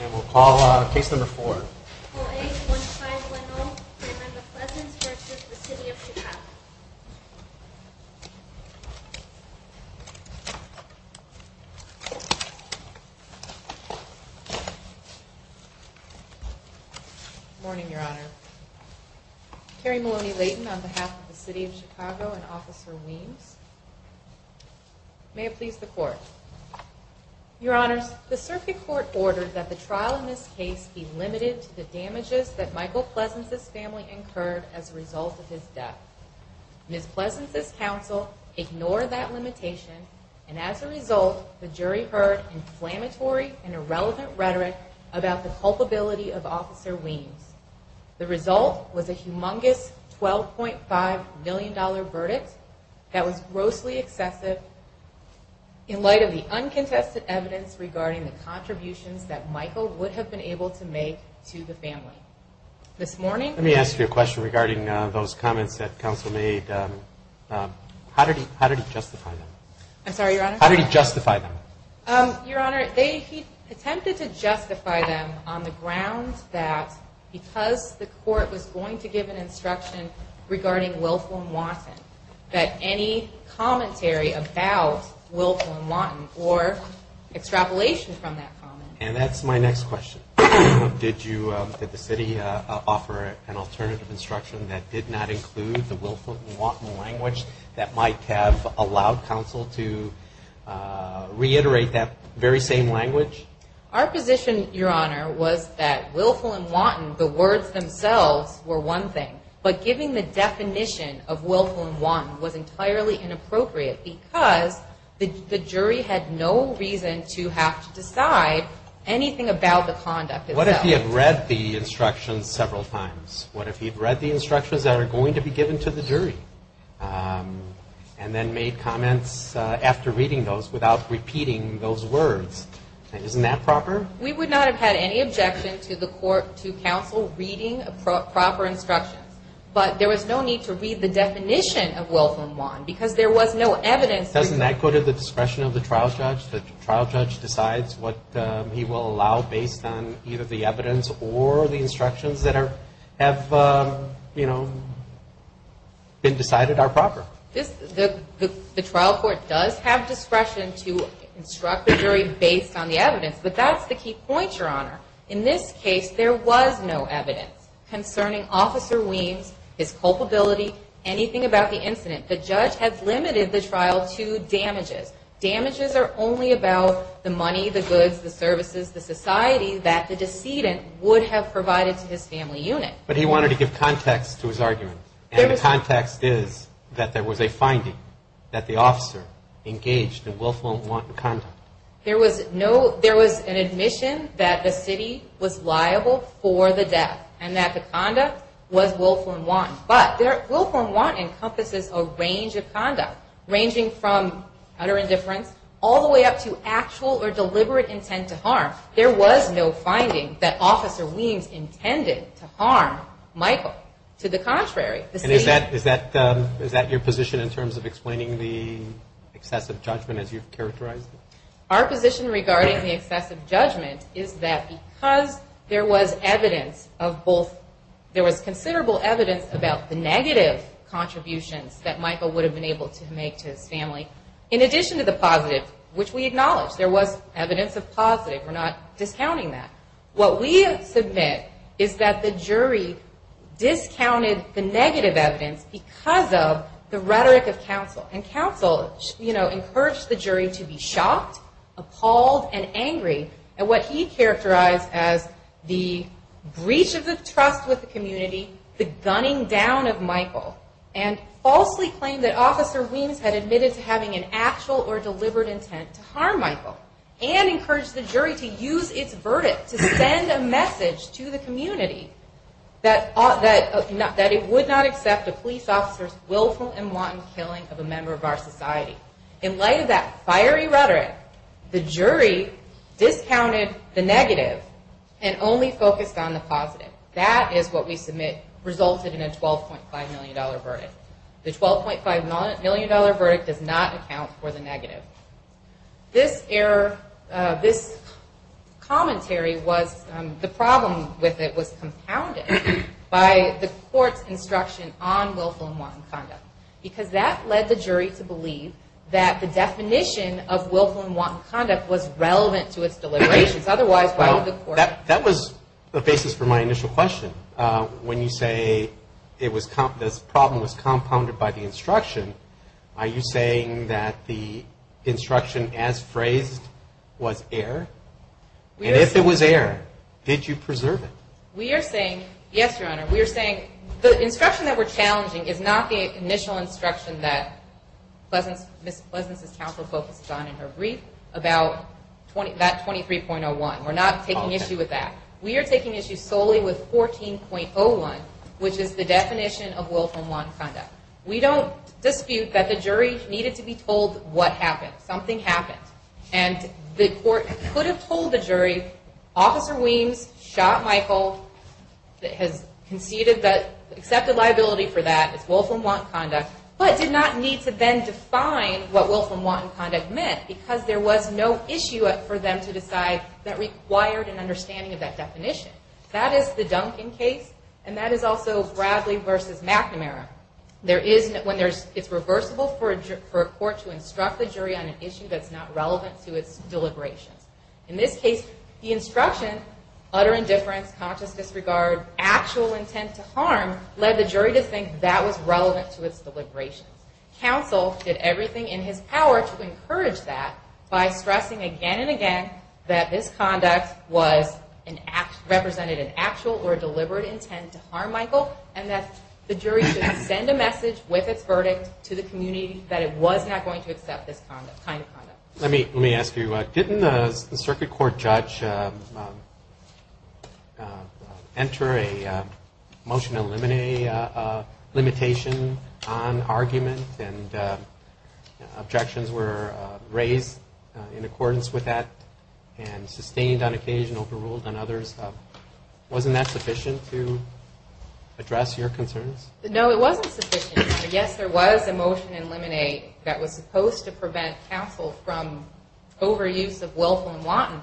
And we'll call case number four. Call 8-1510. Member Pleasance v. City of Chicago. Good morning, Your Honor. Carrie Maloney-Layton on behalf of the City of Chicago and Officer Weems. May it please the Court. Your Honors, the Circuit Court ordered that the trial in this case be limited to the damages that Michael Pleasance's family incurred as a result of his death. Ms. Pleasance's counsel ignored that limitation, and as a result, the jury heard inflammatory and irrelevant rhetoric about the culpability of Officer Weems. The result was a humongous $12.5 million verdict that was grossly excessive in light of the uncontested evidence regarding the contributions that Michael would have been able to make to the family. This morning... Let me ask you a question regarding those comments that counsel made. How did he justify them? I'm sorry, Your Honor? How did he justify them? Your Honor, he attempted to justify them on the grounds that because the Court was going to give an instruction regarding Wilfrem Watton, that any commentary about Wilfrem Watton or extrapolation from that comment... And that's my next question. Did the City offer an alternative instruction that did not include the Wilfrem Watton language that might have allowed counsel to reiterate that very same language? Our position, Your Honor, was that Wilfrem Watton, the words themselves, were one thing. But giving the definition of Wilfrem Watton was entirely inappropriate because the jury had no reason to have to decide anything about the conduct itself. What if he had read the instructions several times? What if he had read the instructions that are going to be given to the jury? And then made comments after reading those without repeating those words? Isn't that proper? We would not have had any objection to the Court, to counsel, reading proper instructions. But there was no need to read the definition of Wilfrem Watton because there was no evidence... Doesn't that go to the discretion of the trial judge? The trial judge decides what he will allow based on either the evidence or the instructions that have been decided are proper. The trial court does have discretion to instruct the jury based on the evidence. But that's the key point, Your Honor. In this case, there was no evidence concerning Officer Weems, his culpability, anything about the incident. The judge has limited the trial to damages. Damages are only about the money, the goods, the services, the society that the decedent would have provided to his family unit. But he wanted to give context to his argument. And the context is that there was a finding that the officer engaged in Wilfrem Watton conduct. There was an admission that the city was liable for the death and that the conduct was Wilfrem Watton. But Wilfrem Watton encompasses a range of conduct ranging from utter indifference all the way up to actual or deliberate intent to harm. There was no finding that Officer Weems intended to harm Michael. To the contrary, the city... And is that your position in terms of explaining the excessive judgment as you've characterized it? Our position regarding the excessive judgment is that because there was evidence of both... There was considerable evidence about the negative contributions that Michael would have been able to make to his family, in addition to the positive, which we acknowledge. There was evidence of positive. We're not discounting that. What we submit is that the jury discounted the negative evidence because of the rhetoric of counsel. And counsel encouraged the jury to be shocked, appalled, and angry at what he characterized as the breach of the trust with the community, the gunning down of Michael. And falsely claimed that Officer Weems had admitted to having an actual or deliberate intent to harm Michael. And encouraged the jury to use its verdict to send a message to the community that it would not accept a police officer's willful and wanton killing of a member of our society. In light of that fiery rhetoric, the jury discounted the negative and only focused on the positive. That is what we submit resulted in a $12.5 million verdict. The $12.5 million verdict does not account for the negative. This error, this commentary was, the problem with it was compounded by the court's instruction on willful and wanton conduct. Because that led the jury to believe that the definition of willful and wanton conduct was relevant to its deliberations. Otherwise, why would the court? That was the basis for my initial question. When you say this problem was compounded by the instruction, are you saying that the instruction as phrased was error? And if it was error, did you preserve it? We are saying, yes, Your Honor, we are saying the instruction that we're challenging is not the initial instruction that Ms. Pleasance's counsel focused on in her brief about that 23.01. We're not taking issue with that. We are taking issue solely with 14.01, which is the definition of willful and wanton conduct. We don't dispute that the jury needed to be told what happened, something happened. And the court could have told the jury, Officer Weems shot Michael, has conceded that, accepted liability for that, it's willful and wanton conduct, but did not need to then define what willful and wanton conduct meant. Because there was no issue for them to decide that required an understanding of that definition. That is the Duncan case, and that is also Bradley v. McNamara. When it's reversible for a court to instruct the jury on an issue that's not relevant to its deliberations. In this case, the instruction, utter indifference, conscious disregard, actual intent to harm, led the jury to think that was relevant to its deliberations. Counsel did everything in his power to encourage that by stressing again and again that this conduct represented an actual or deliberate intent to harm Michael and that the jury should send a message with its verdict to the community that it was not going to accept this kind of conduct. Let me ask you, didn't the circuit court judge enter a motion to eliminate a limitation on argument and objections were raised in accordance with that and sustained on occasion, overruled on others? Wasn't that sufficient to address your concerns? No, it wasn't sufficient. Yes, there was a motion to eliminate that was supposed to prevent counsel from overuse of willful and wanton,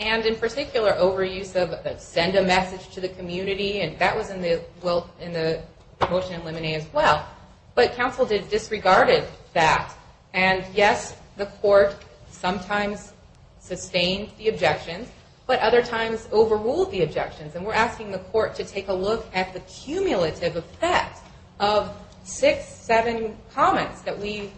and in particular overuse of send a message to the community, and that was in the motion to eliminate as well. But counsel disregarded that, and yes, the court sometimes sustained the objections, but other times overruled the objections, and we're asking the court to take a look at the cumulative effect of six, seven comments that we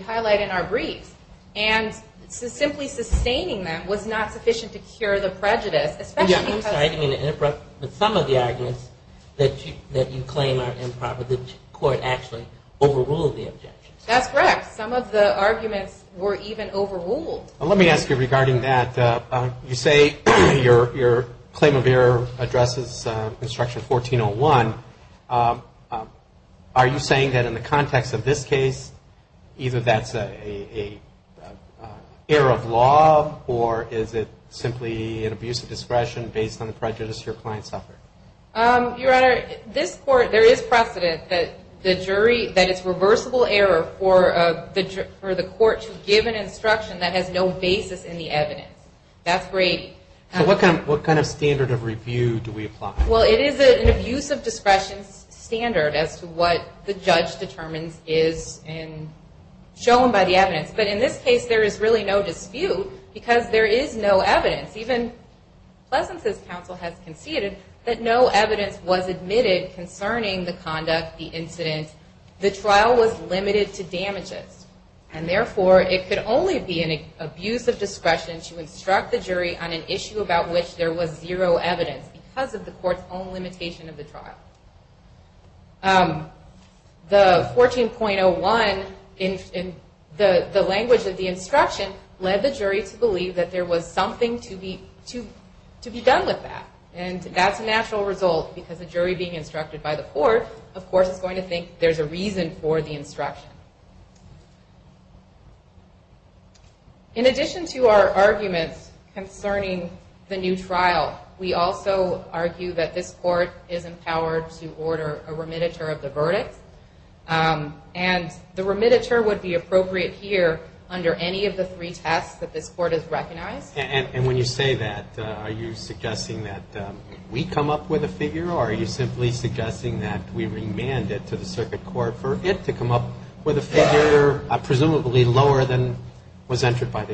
highlight in our briefs, and simply sustaining them was not sufficient to cure the prejudice, especially because... I'm sorry to interrupt, but some of the arguments that you claim are improper, the court actually overruled the objections. That's correct. Some of the arguments were even overruled. Let me ask you regarding that. You say your claim of error addresses Instruction 1401. Are you saying that in the context of this case, either that's an error of law, or is it simply an abuse of discretion based on the prejudice your client suffered? Your Honor, this court, there is precedent that the jury, that it's reversible error for the court to give an instruction that has no basis in the evidence. That's great. So what kind of standard of review do we apply? Well, it is an abuse of discretion standard as to what the judge determines is shown by the evidence. But in this case, there is really no dispute, because there is no evidence. Even Pleasance's counsel has conceded that no evidence was admitted concerning the conduct, the incident. The trial was limited to damages. And therefore, it could only be an abuse of discretion to instruct the jury on an issue about which there was zero evidence because of the court's own limitation of the trial. The 14.01, the language of the instruction, led the jury to believe that there was something to be done with that. And that's a natural result, because the jury being instructed by the court, of course, is going to think there's a reason for the instruction. In addition to our arguments concerning the new trial, we also argue that this court is empowered to order a remittiture of the verdict. And the remittiture would be appropriate here And when you say that, are you suggesting that we come up with a figure? Or are you simply suggesting that we remand it to the circuit court for it to come up with a figure presumably lower than was entered by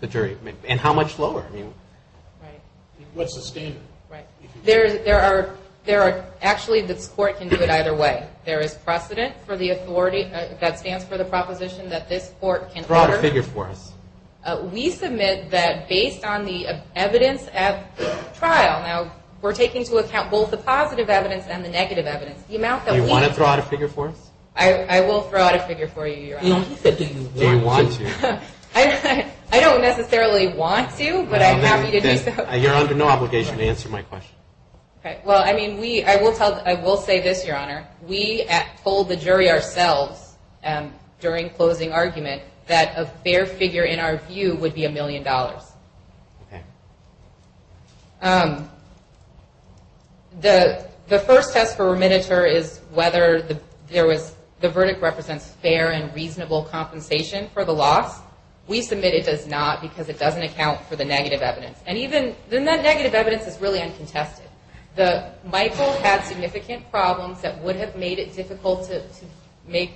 the jury? And how much lower? Right. What's the standard? Right. There are, actually, this court can do it either way. There is precedent for the authority that stands for the proposition that this court can order. Draw a figure for us. We submit that based on the evidence at trial. Now, we're taking into account both the positive evidence and the negative evidence. Do you want to draw out a figure for us? I will draw out a figure for you, Your Honor. No, he said do you want to. I don't necessarily want to, but I'm happy to do so. You're under no obligation to answer my question. Okay. Well, I mean, I will say this, Your Honor. We told the jury ourselves during closing argument that a fair figure, in our view, would be a million dollars. Okay. The first test for remediator is whether there was, the verdict represents fair and reasonable compensation for the loss. We submit it does not because it doesn't account for the negative evidence. And even, the negative evidence is really uncontested. Michael had significant problems that would have made it difficult to make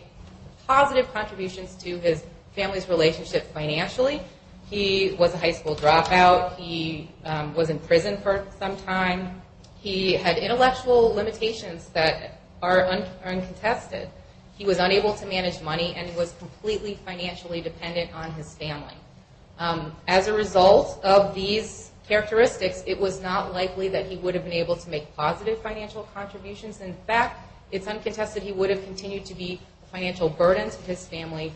positive contributions to his family's relationship financially. He was a high school dropout. He was in prison for some time. He had intellectual limitations that are uncontested. He was unable to manage money and was completely financially dependent on his family. As a result of these characteristics, it was not likely that he would have been able to make positive financial contributions. In fact, it's uncontested he would have continued to be a financial burden to his family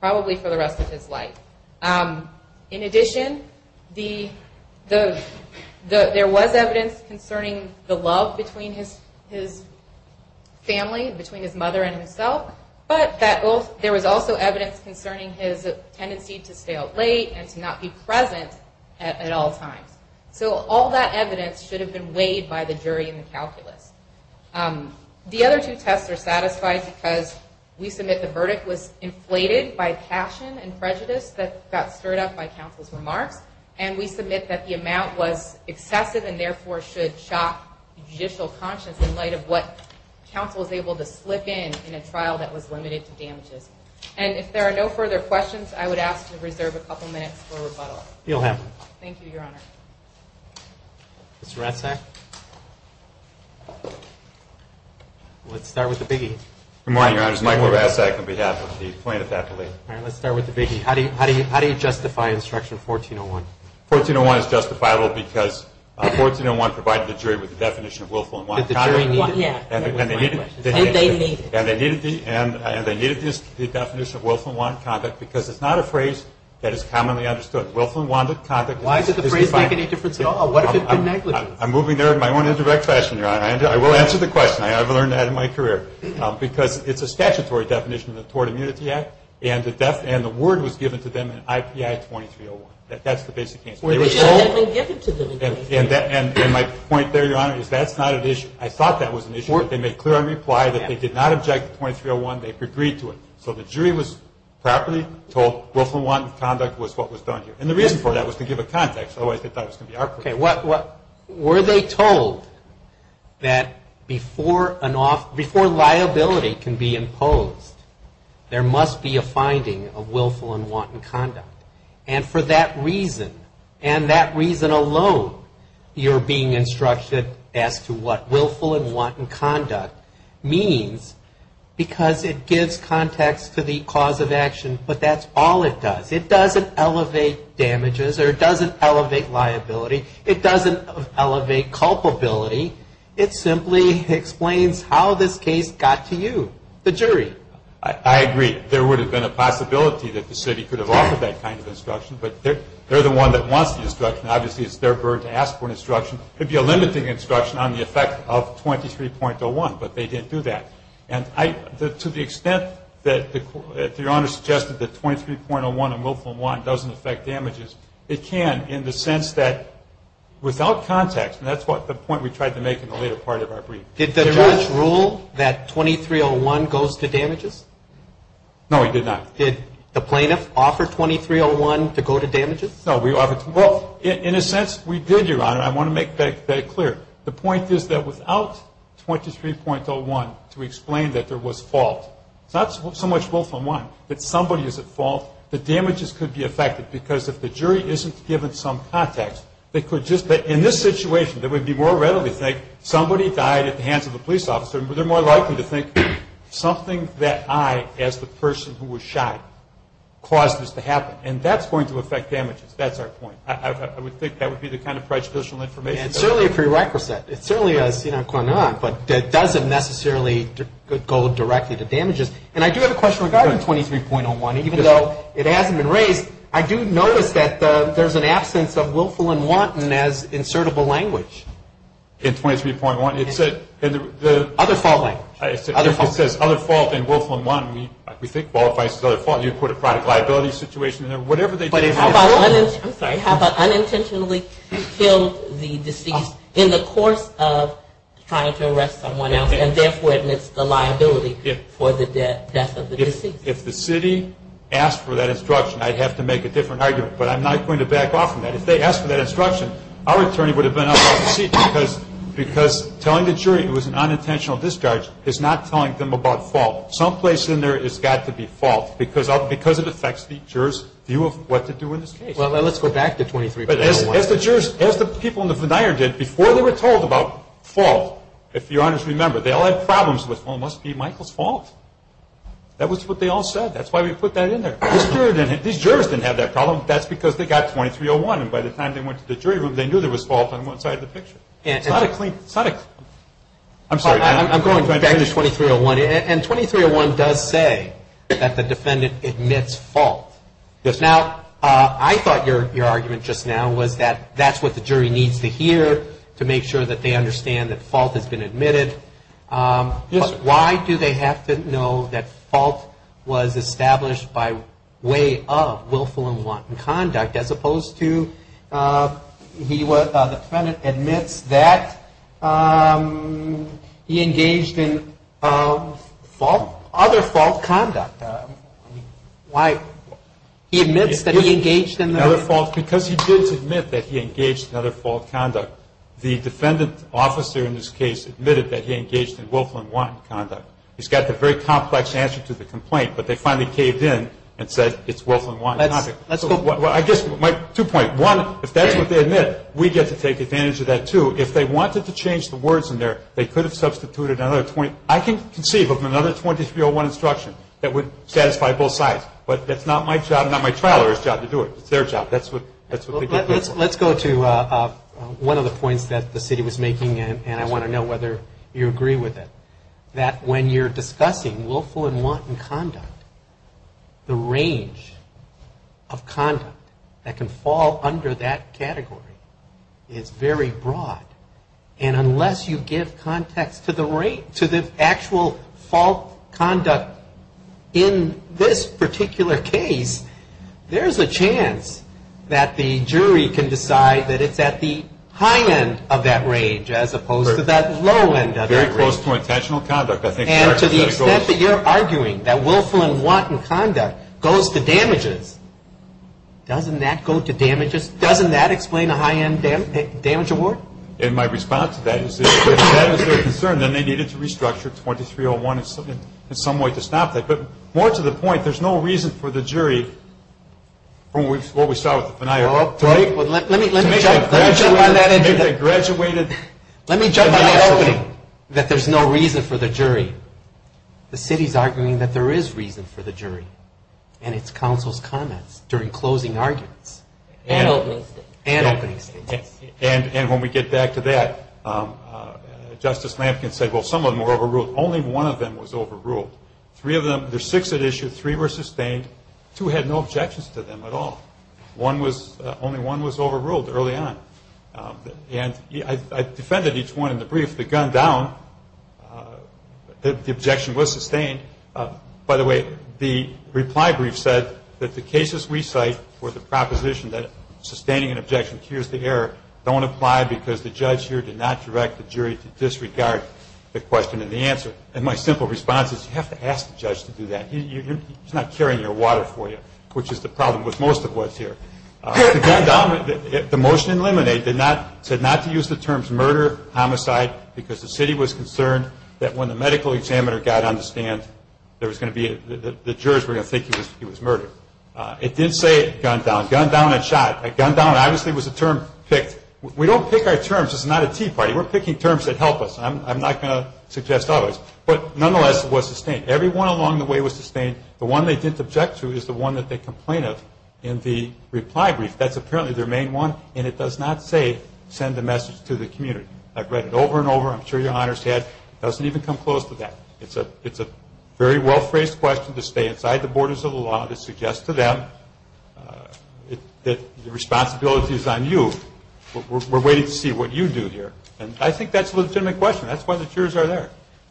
probably for the rest of his life. In addition, there was evidence concerning the love between his family, between his mother and himself, but there was also evidence concerning his tendency to stay up late and to not be present at all times. So all that evidence should have been weighed by the jury in the calculus. The other two tests are satisfied because we submit the verdict was inflated by passion and prejudice that got stirred up by counsel's remarks and we submit that the amount was excessive and therefore should shock judicial conscience in light of what counsel was able to slip in in a trial that was limited to damages. And if there are no further questions, I would ask to reserve a couple minutes for rebuttal. You'll have one. Thank you, Your Honor. Mr. Ratzak? Let's start with the biggie. Good morning, Your Honor. It's Michael Ratzak on behalf of the plaintiff's athlete. All right. Let's start with the biggie. How do you justify Instruction 1401? 1401 is justifiable because 1401 provided the jury with the definition of willful and want conduct. Did the jury need it? Yeah. And they needed the definition of willful and want conduct because it's not a phrase that is commonly understood. Why did the phrase make any difference at all? What if it had been negligent? I'm moving there in my own indirect fashion, Your Honor. I will answer the question. I have learned that in my career. Because it's a statutory definition of the Tort Immunity Act and the word was given to them in IPI 2301. That's the basic case. The word had been given to them. And my point there, Your Honor, is that's not an issue. I thought that was an issue. They made clear on reply that they did not object to 2301. They agreed to it. So the jury was properly told willful and want conduct was what was done here. And the reason for that was to give a context. Otherwise, they thought it was going to be awkward. Okay. Were they told that before liability can be imposed, there must be a finding of willful and want conduct? And for that reason, and that reason alone, you're being instructed as to what willful and want conduct means because it gives context to the cause of action. But that's all it does. It doesn't elevate damages or it doesn't elevate liability. It doesn't elevate culpability. It simply explains how this case got to you, the jury. I agree. There would have been a possibility that the city could have offered that kind of instruction. But they're the one that wants the instruction. Obviously, it's their bird to ask for instruction. It would be a limiting instruction on the effect of 2301, but they didn't do that. To the extent that Your Honor suggested that 2301 and willful and want doesn't affect damages, it can in the sense that without context, and that's the point we tried to make in the later part of our brief. Did the judge rule that 2301 goes to damages? No, he did not. Did the plaintiff offer 2301 to go to damages? No. In a sense, we did, Your Honor. I want to make that clear. The point is that without 23.01 to explain that there was fault, not so much willful and want, but somebody is at fault, the damages could be affected because if the jury isn't given some context, they could just, in this situation, they would more readily think somebody died at the hands of a police officer. They're more likely to think something that I, as the person who was shot, caused this to happen. And that's going to affect damages. That's our point. I would think that would be the kind of prejudicial information. It's certainly a prerequisite. It certainly has gone on, but it doesn't necessarily go directly to damages. And I do have a question regarding 23.01. Even though it hasn't been raised, I do notice that there's an absence of willful and want as insertable language. In 23.1? Other fault language. If it says other fault and willful and want, we think qualifies as other fault. You put a product liability situation in there. How about unintentionally killed the deceased in the course of trying to arrest someone else and therefore admits the liability for the death of the deceased? If the city asked for that instruction, I'd have to make a different argument. But I'm not going to back off from that. If they asked for that instruction, our attorney would have been up off the seat because telling the jury it was an unintentional discharge is not telling them about fault. Some place in there has got to be fault. Because it affects the juror's view of what to do in this case. Well, let's go back to 23.01. As the people in the veneer did, before they were told about fault, if Your Honors remember, they all had problems with, well, it must be Michael's fault. That was what they all said. That's why we put that in there. These jurors didn't have that problem. That's because they got 23.01. And by the time they went to the jury room, they knew there was fault on one side of the picture. It's not a clean – it's not a – I'm sorry. I'm going back to 23.01. And 23.01 does say that the defendant admits fault. Now, I thought your argument just now was that that's what the jury needs to hear to make sure that they understand that fault has been admitted. Why do they have to know that fault was established by way of willful and wanton conduct as opposed to he was – the defendant admits that he engaged in fault – other fault conduct? Why – he admits that he engaged in the – Another fault – because he did admit that he engaged in other fault conduct, the defendant officer in this case admitted that he engaged in willful and wanton conduct. He's got the very complex answer to the complaint, but they finally caved in and said it's willful and wanton conduct. Well, I guess my – two points. One, if that's what they admit, we get to take advantage of that, too. If they wanted to change the words in there, they could have substituted another 20 – I can conceive of another 23.01 instruction that would satisfy both sides. But that's not my job – not my trial lawyer's job to do it. It's their job. That's what they did. Let's go to one of the points that the city was making, and I want to know whether you agree with it, that when you're discussing willful and wanton conduct, the range of conduct that can fall under that category is very broad. And unless you give context to the actual fault conduct in this particular case, there's a chance that the jury can decide that it's at the high end of that range Very close to intentional conduct, I think. And to the extent that you're arguing that willful and wanton conduct goes to damages, doesn't that go to damages? Doesn't that explain a high-end damage award? And my response to that is that if that was their concern, then they needed to restructure 23.01 in some way to stop that. But more to the point, there's no reason for the jury – from what we saw with the denial of complaint – Let me jump on that. Maybe they graduated. Let me jump on the opening, that there's no reason for the jury. The city's arguing that there is reason for the jury, and it's counsel's comments during closing arguments. And opening statements. And when we get back to that, Justice Lampkin said, well, some of them were overruled. Only one of them was overruled. Three of them – there's six that issued, three were sustained, two had no objections to them at all. Only one was overruled early on. And I defended each one in the brief. The gunned down, the objection was sustained. By the way, the reply brief said that the cases we cite for the proposition that sustaining an objection cures the error don't apply because the judge here did not direct the jury to disregard the question and the answer. And my simple response is, you have to ask the judge to do that. He's not carrying your water for you, which is the problem with most of what's here. The motion in Lemonade said not to use the terms murder, homicide, because the city was concerned that when the medical examiner got on the stand, there was going to be – the jurors were going to think he was murdered. It didn't say gunned down. Gunned down and shot. Gunned down, obviously, was a term picked. We don't pick our terms. This is not a tea party. We're picking terms that help us. I'm not going to suggest others. But nonetheless, it was sustained. Every one along the way was sustained. The one they didn't object to is the one that they complain of in the reply brief. That's apparently their main one. And it does not say, send a message to the community. I've read it over and over. I'm sure your honors have. It doesn't even come close to that. It's a very well-phrased question to stay inside the borders of the law that suggests to them that the responsibility is on you. We're waiting to see what you do here. And I think that's a legitimate question. That's why the jurors are there.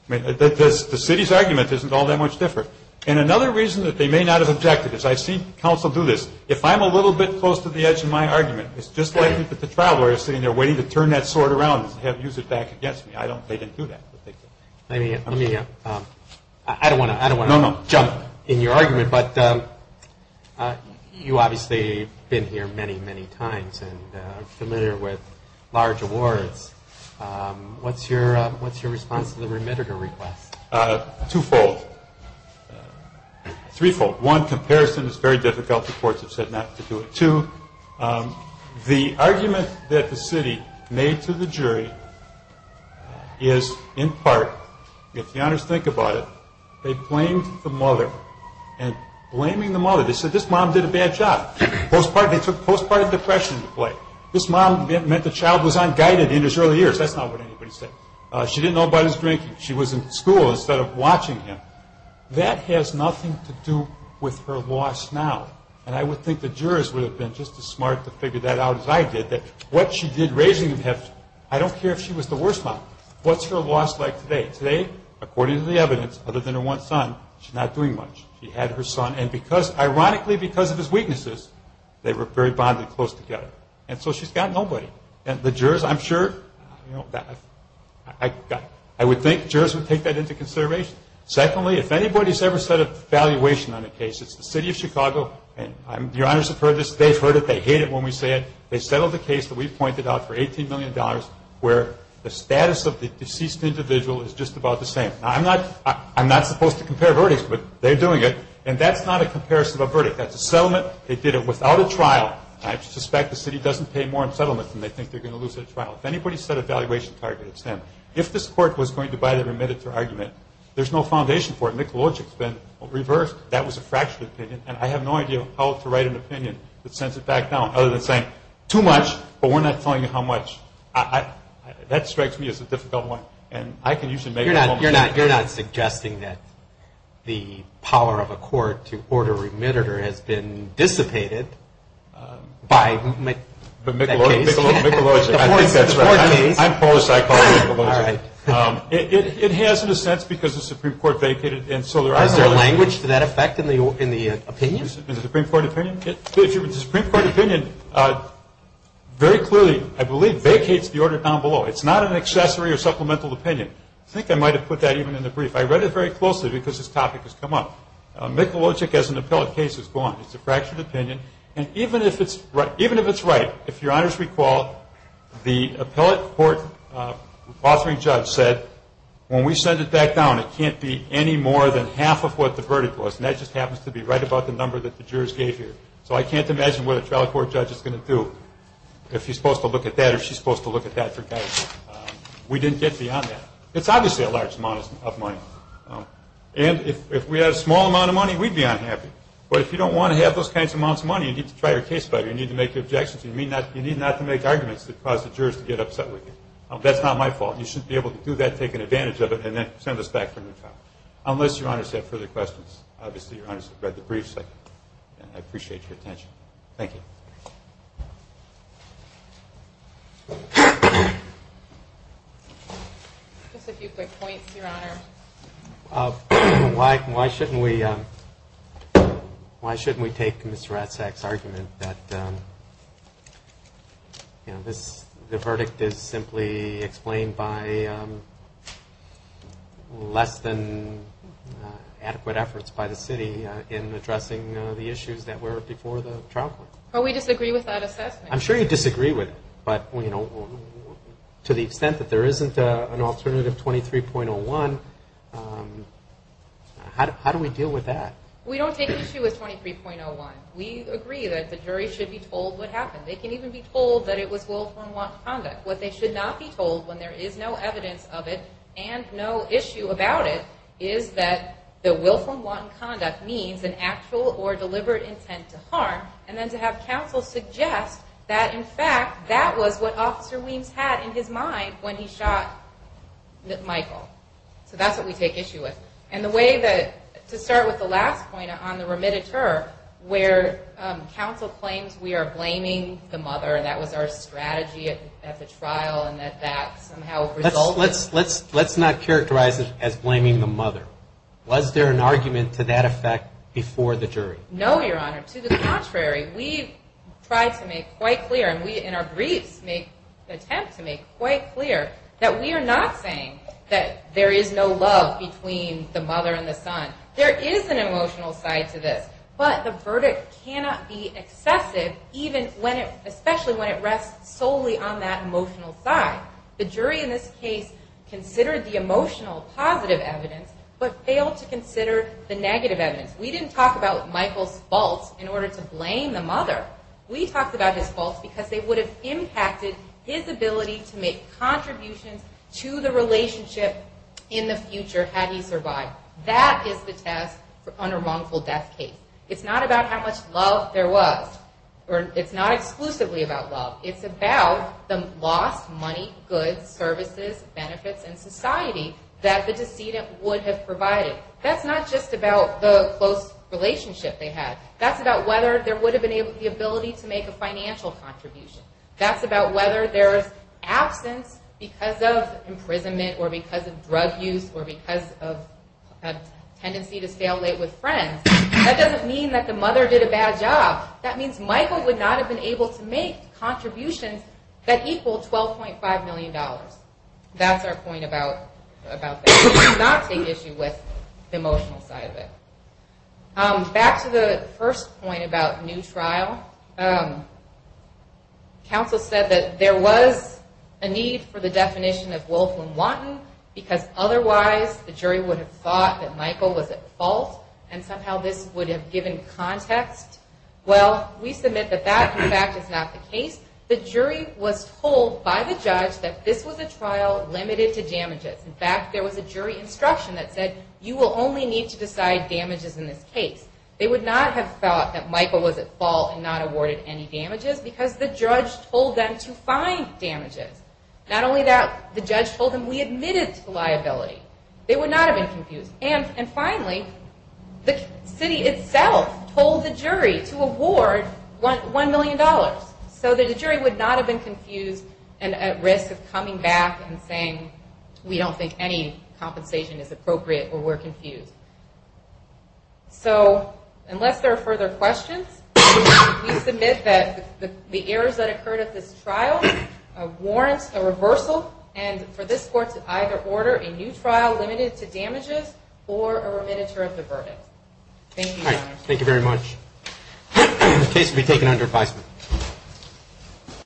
I mean, the city's argument isn't all that much different. And another reason that they may not have objected is, I've seen counsel do this. If I'm a little bit close to the edge in my argument, it's just like the traveler is sitting there waiting to turn that sword around and use it back against me. They didn't do that. I don't want to jump in your argument. But you obviously have been here many, many times and are familiar with large awards. What's your response to the remitter to request? Twofold. Threefold. One, comparison is very difficult. The courts have said not to do it. Two, the argument that the city made to the jury is, in part, if the honors think about it, they blamed the mother. And blaming the mother, they said, this mom did a bad job. They took postpartum depression into play. This mom meant the child was unguided in his early years. That's not what anybody said. She didn't know about his drinking. She was in school instead of watching him. That has nothing to do with her loss now. And I would think the jurors would have been just as smart to figure that out as I did. What she did raising him, I don't care if she was the worst mom. What's her loss like today? Today, according to the evidence, other than her one son, she's not doing much. She had her son. And ironically, because of his weaknesses, they were very bonded close together. And so she's got nobody. And the jurors, I'm sure, I would think jurors would take that into consideration. Secondly, if anybody's ever set a valuation on a case, it's the city of Chicago. Your honors have heard this. They've heard it. They hate it when we say it. They settled the case that we pointed out for $18 million where the status of the deceased individual is just about the same. Now, I'm not supposed to compare verdicts, but they're doing it. And that's not a comparison of a verdict. That's a settlement. They did it without a trial. I suspect the city doesn't pay more in settlement than they think they're going to lose at trial. If anybody's set a valuation target, it's them. If this court was going to buy the remittance or argument, there's no foundation for it. Mikulogic's been reversed. That was a fractured opinion, and I have no idea how to write an opinion that sends it back down other than saying, too much, but we're not telling you how much. That strikes me as a difficult one. And I can usually make a moment. You're not suggesting that the power of a court to order remitter has been dissipated by that case? Mikulogic. I think that's right. I'm Polish, so I call it Mikulogic. It has, in a sense, because the Supreme Court vacated it. Is there language to that effect in the opinion? In the Supreme Court opinion? The Supreme Court opinion very clearly, I believe, vacates the order down below. It's not an accessory or supplemental opinion. I think I might have put that even in the brief. I read it very closely because this topic has come up. Mikulogic as an appellate case is gone. It's a fractured opinion. And even if it's right, if Your Honors recall, the appellate court authoring judge said, when we send it back down, it can't be any more than half of what the verdict was. And that just happens to be right about the number that the jurors gave here. So I can't imagine what a trial court judge is going to do if he's supposed to look at that or she's supposed to look at that for guidance. We didn't get beyond that. It's obviously a large amount of money. And if we had a small amount of money, we'd be unhappy. But if you don't want to have those kinds of amounts of money, you need to try your case better. You need to make objections. You need not to make arguments that cause the jurors to get upset with you. That's not my fault. You shouldn't be able to do that, take advantage of it, and then send us back for a new trial. Unless Your Honors have further questions. Obviously, Your Honors have read the brief. I appreciate your attention. Just a few quick points, Your Honor. Why shouldn't we take Mr. Ratzak's argument that the verdict is simply explained by less than adequate efforts by the city in addressing the issues that were before the trial court? We disagree with that assessment. I'm sure you disagree with it, but to the extent that there isn't an alternative 23.01, how do we deal with that? We don't take the issue with 23.01. We agree that the jury should be told what happened. They can even be told that it was willful and wanton conduct. What they should not be told, when there is no evidence of it and no issue about it, is that the willful and wanton conduct means an actual or deliberate intent to harm, and then to have counsel suggest that, in fact, that was what Officer Weems had in his mind when he shot Michael. So that's what we take issue with. To start with the last point on the remitted term, where counsel claims we are blaming the mother, and that was our strategy at the trial, and that that somehow resulted... Let's not characterize it as blaming the mother. Was there an argument to that effect before the jury? No, Your Honor. To the contrary. We try to make quite clear, and we, in our briefs, make that we are not saying that there is no love between the mother and the son. There is an emotional side to this, but the verdict cannot be excessive, especially when it rests solely on that emotional side. The jury in this case considered the emotional positive evidence, but failed to consider the negative evidence. We didn't talk about Michael's faults in order to blame the mother. impacted his ability to make contributions to the relationship in the future, had he survived. That is the test on a wrongful death case. It's not about how much love there was. It's not exclusively about love. It's about the lost money, goods, services, benefits, and society that the decedent would have provided. That's not just about the close relationship they had. That's about whether there would have been the ability to make a financial contribution. That's about whether there's absence because of imprisonment, or because of drug use, or because of a tendency to stay up late with friends. That doesn't mean that the mother did a bad job. That means Michael would not have been able to make contributions that equal $12.5 million. That's our point about not taking issue with the emotional side of it. Back to the first point about new trial. Counsel said that there was a need for the definition of willful and wanton because otherwise the jury would have thought that Michael was at fault and somehow this would have given context. Well, we submit that that, in fact, is not the case. The jury was told by the judge that this was a trial limited to damages. In fact, there was a jury instruction that said, you will only need to decide damages in this case. They would not have thought that Michael was at fault and not awarded any damages because the judge told them to and not only that, the judge told them we admitted to liability. They would not have been confused. And finally, the city itself told the jury to award $1 million. So the jury would not have been confused and at risk of coming back and saying, we don't think any compensation is appropriate or we're confused. So, unless there are further questions, we submit that the errors that occurred at this trial warrant a reversal and for this court to either order a new trial limited to damages or a remitter of the verdict. Thank you, Your Honor. The case will be taken under advisement.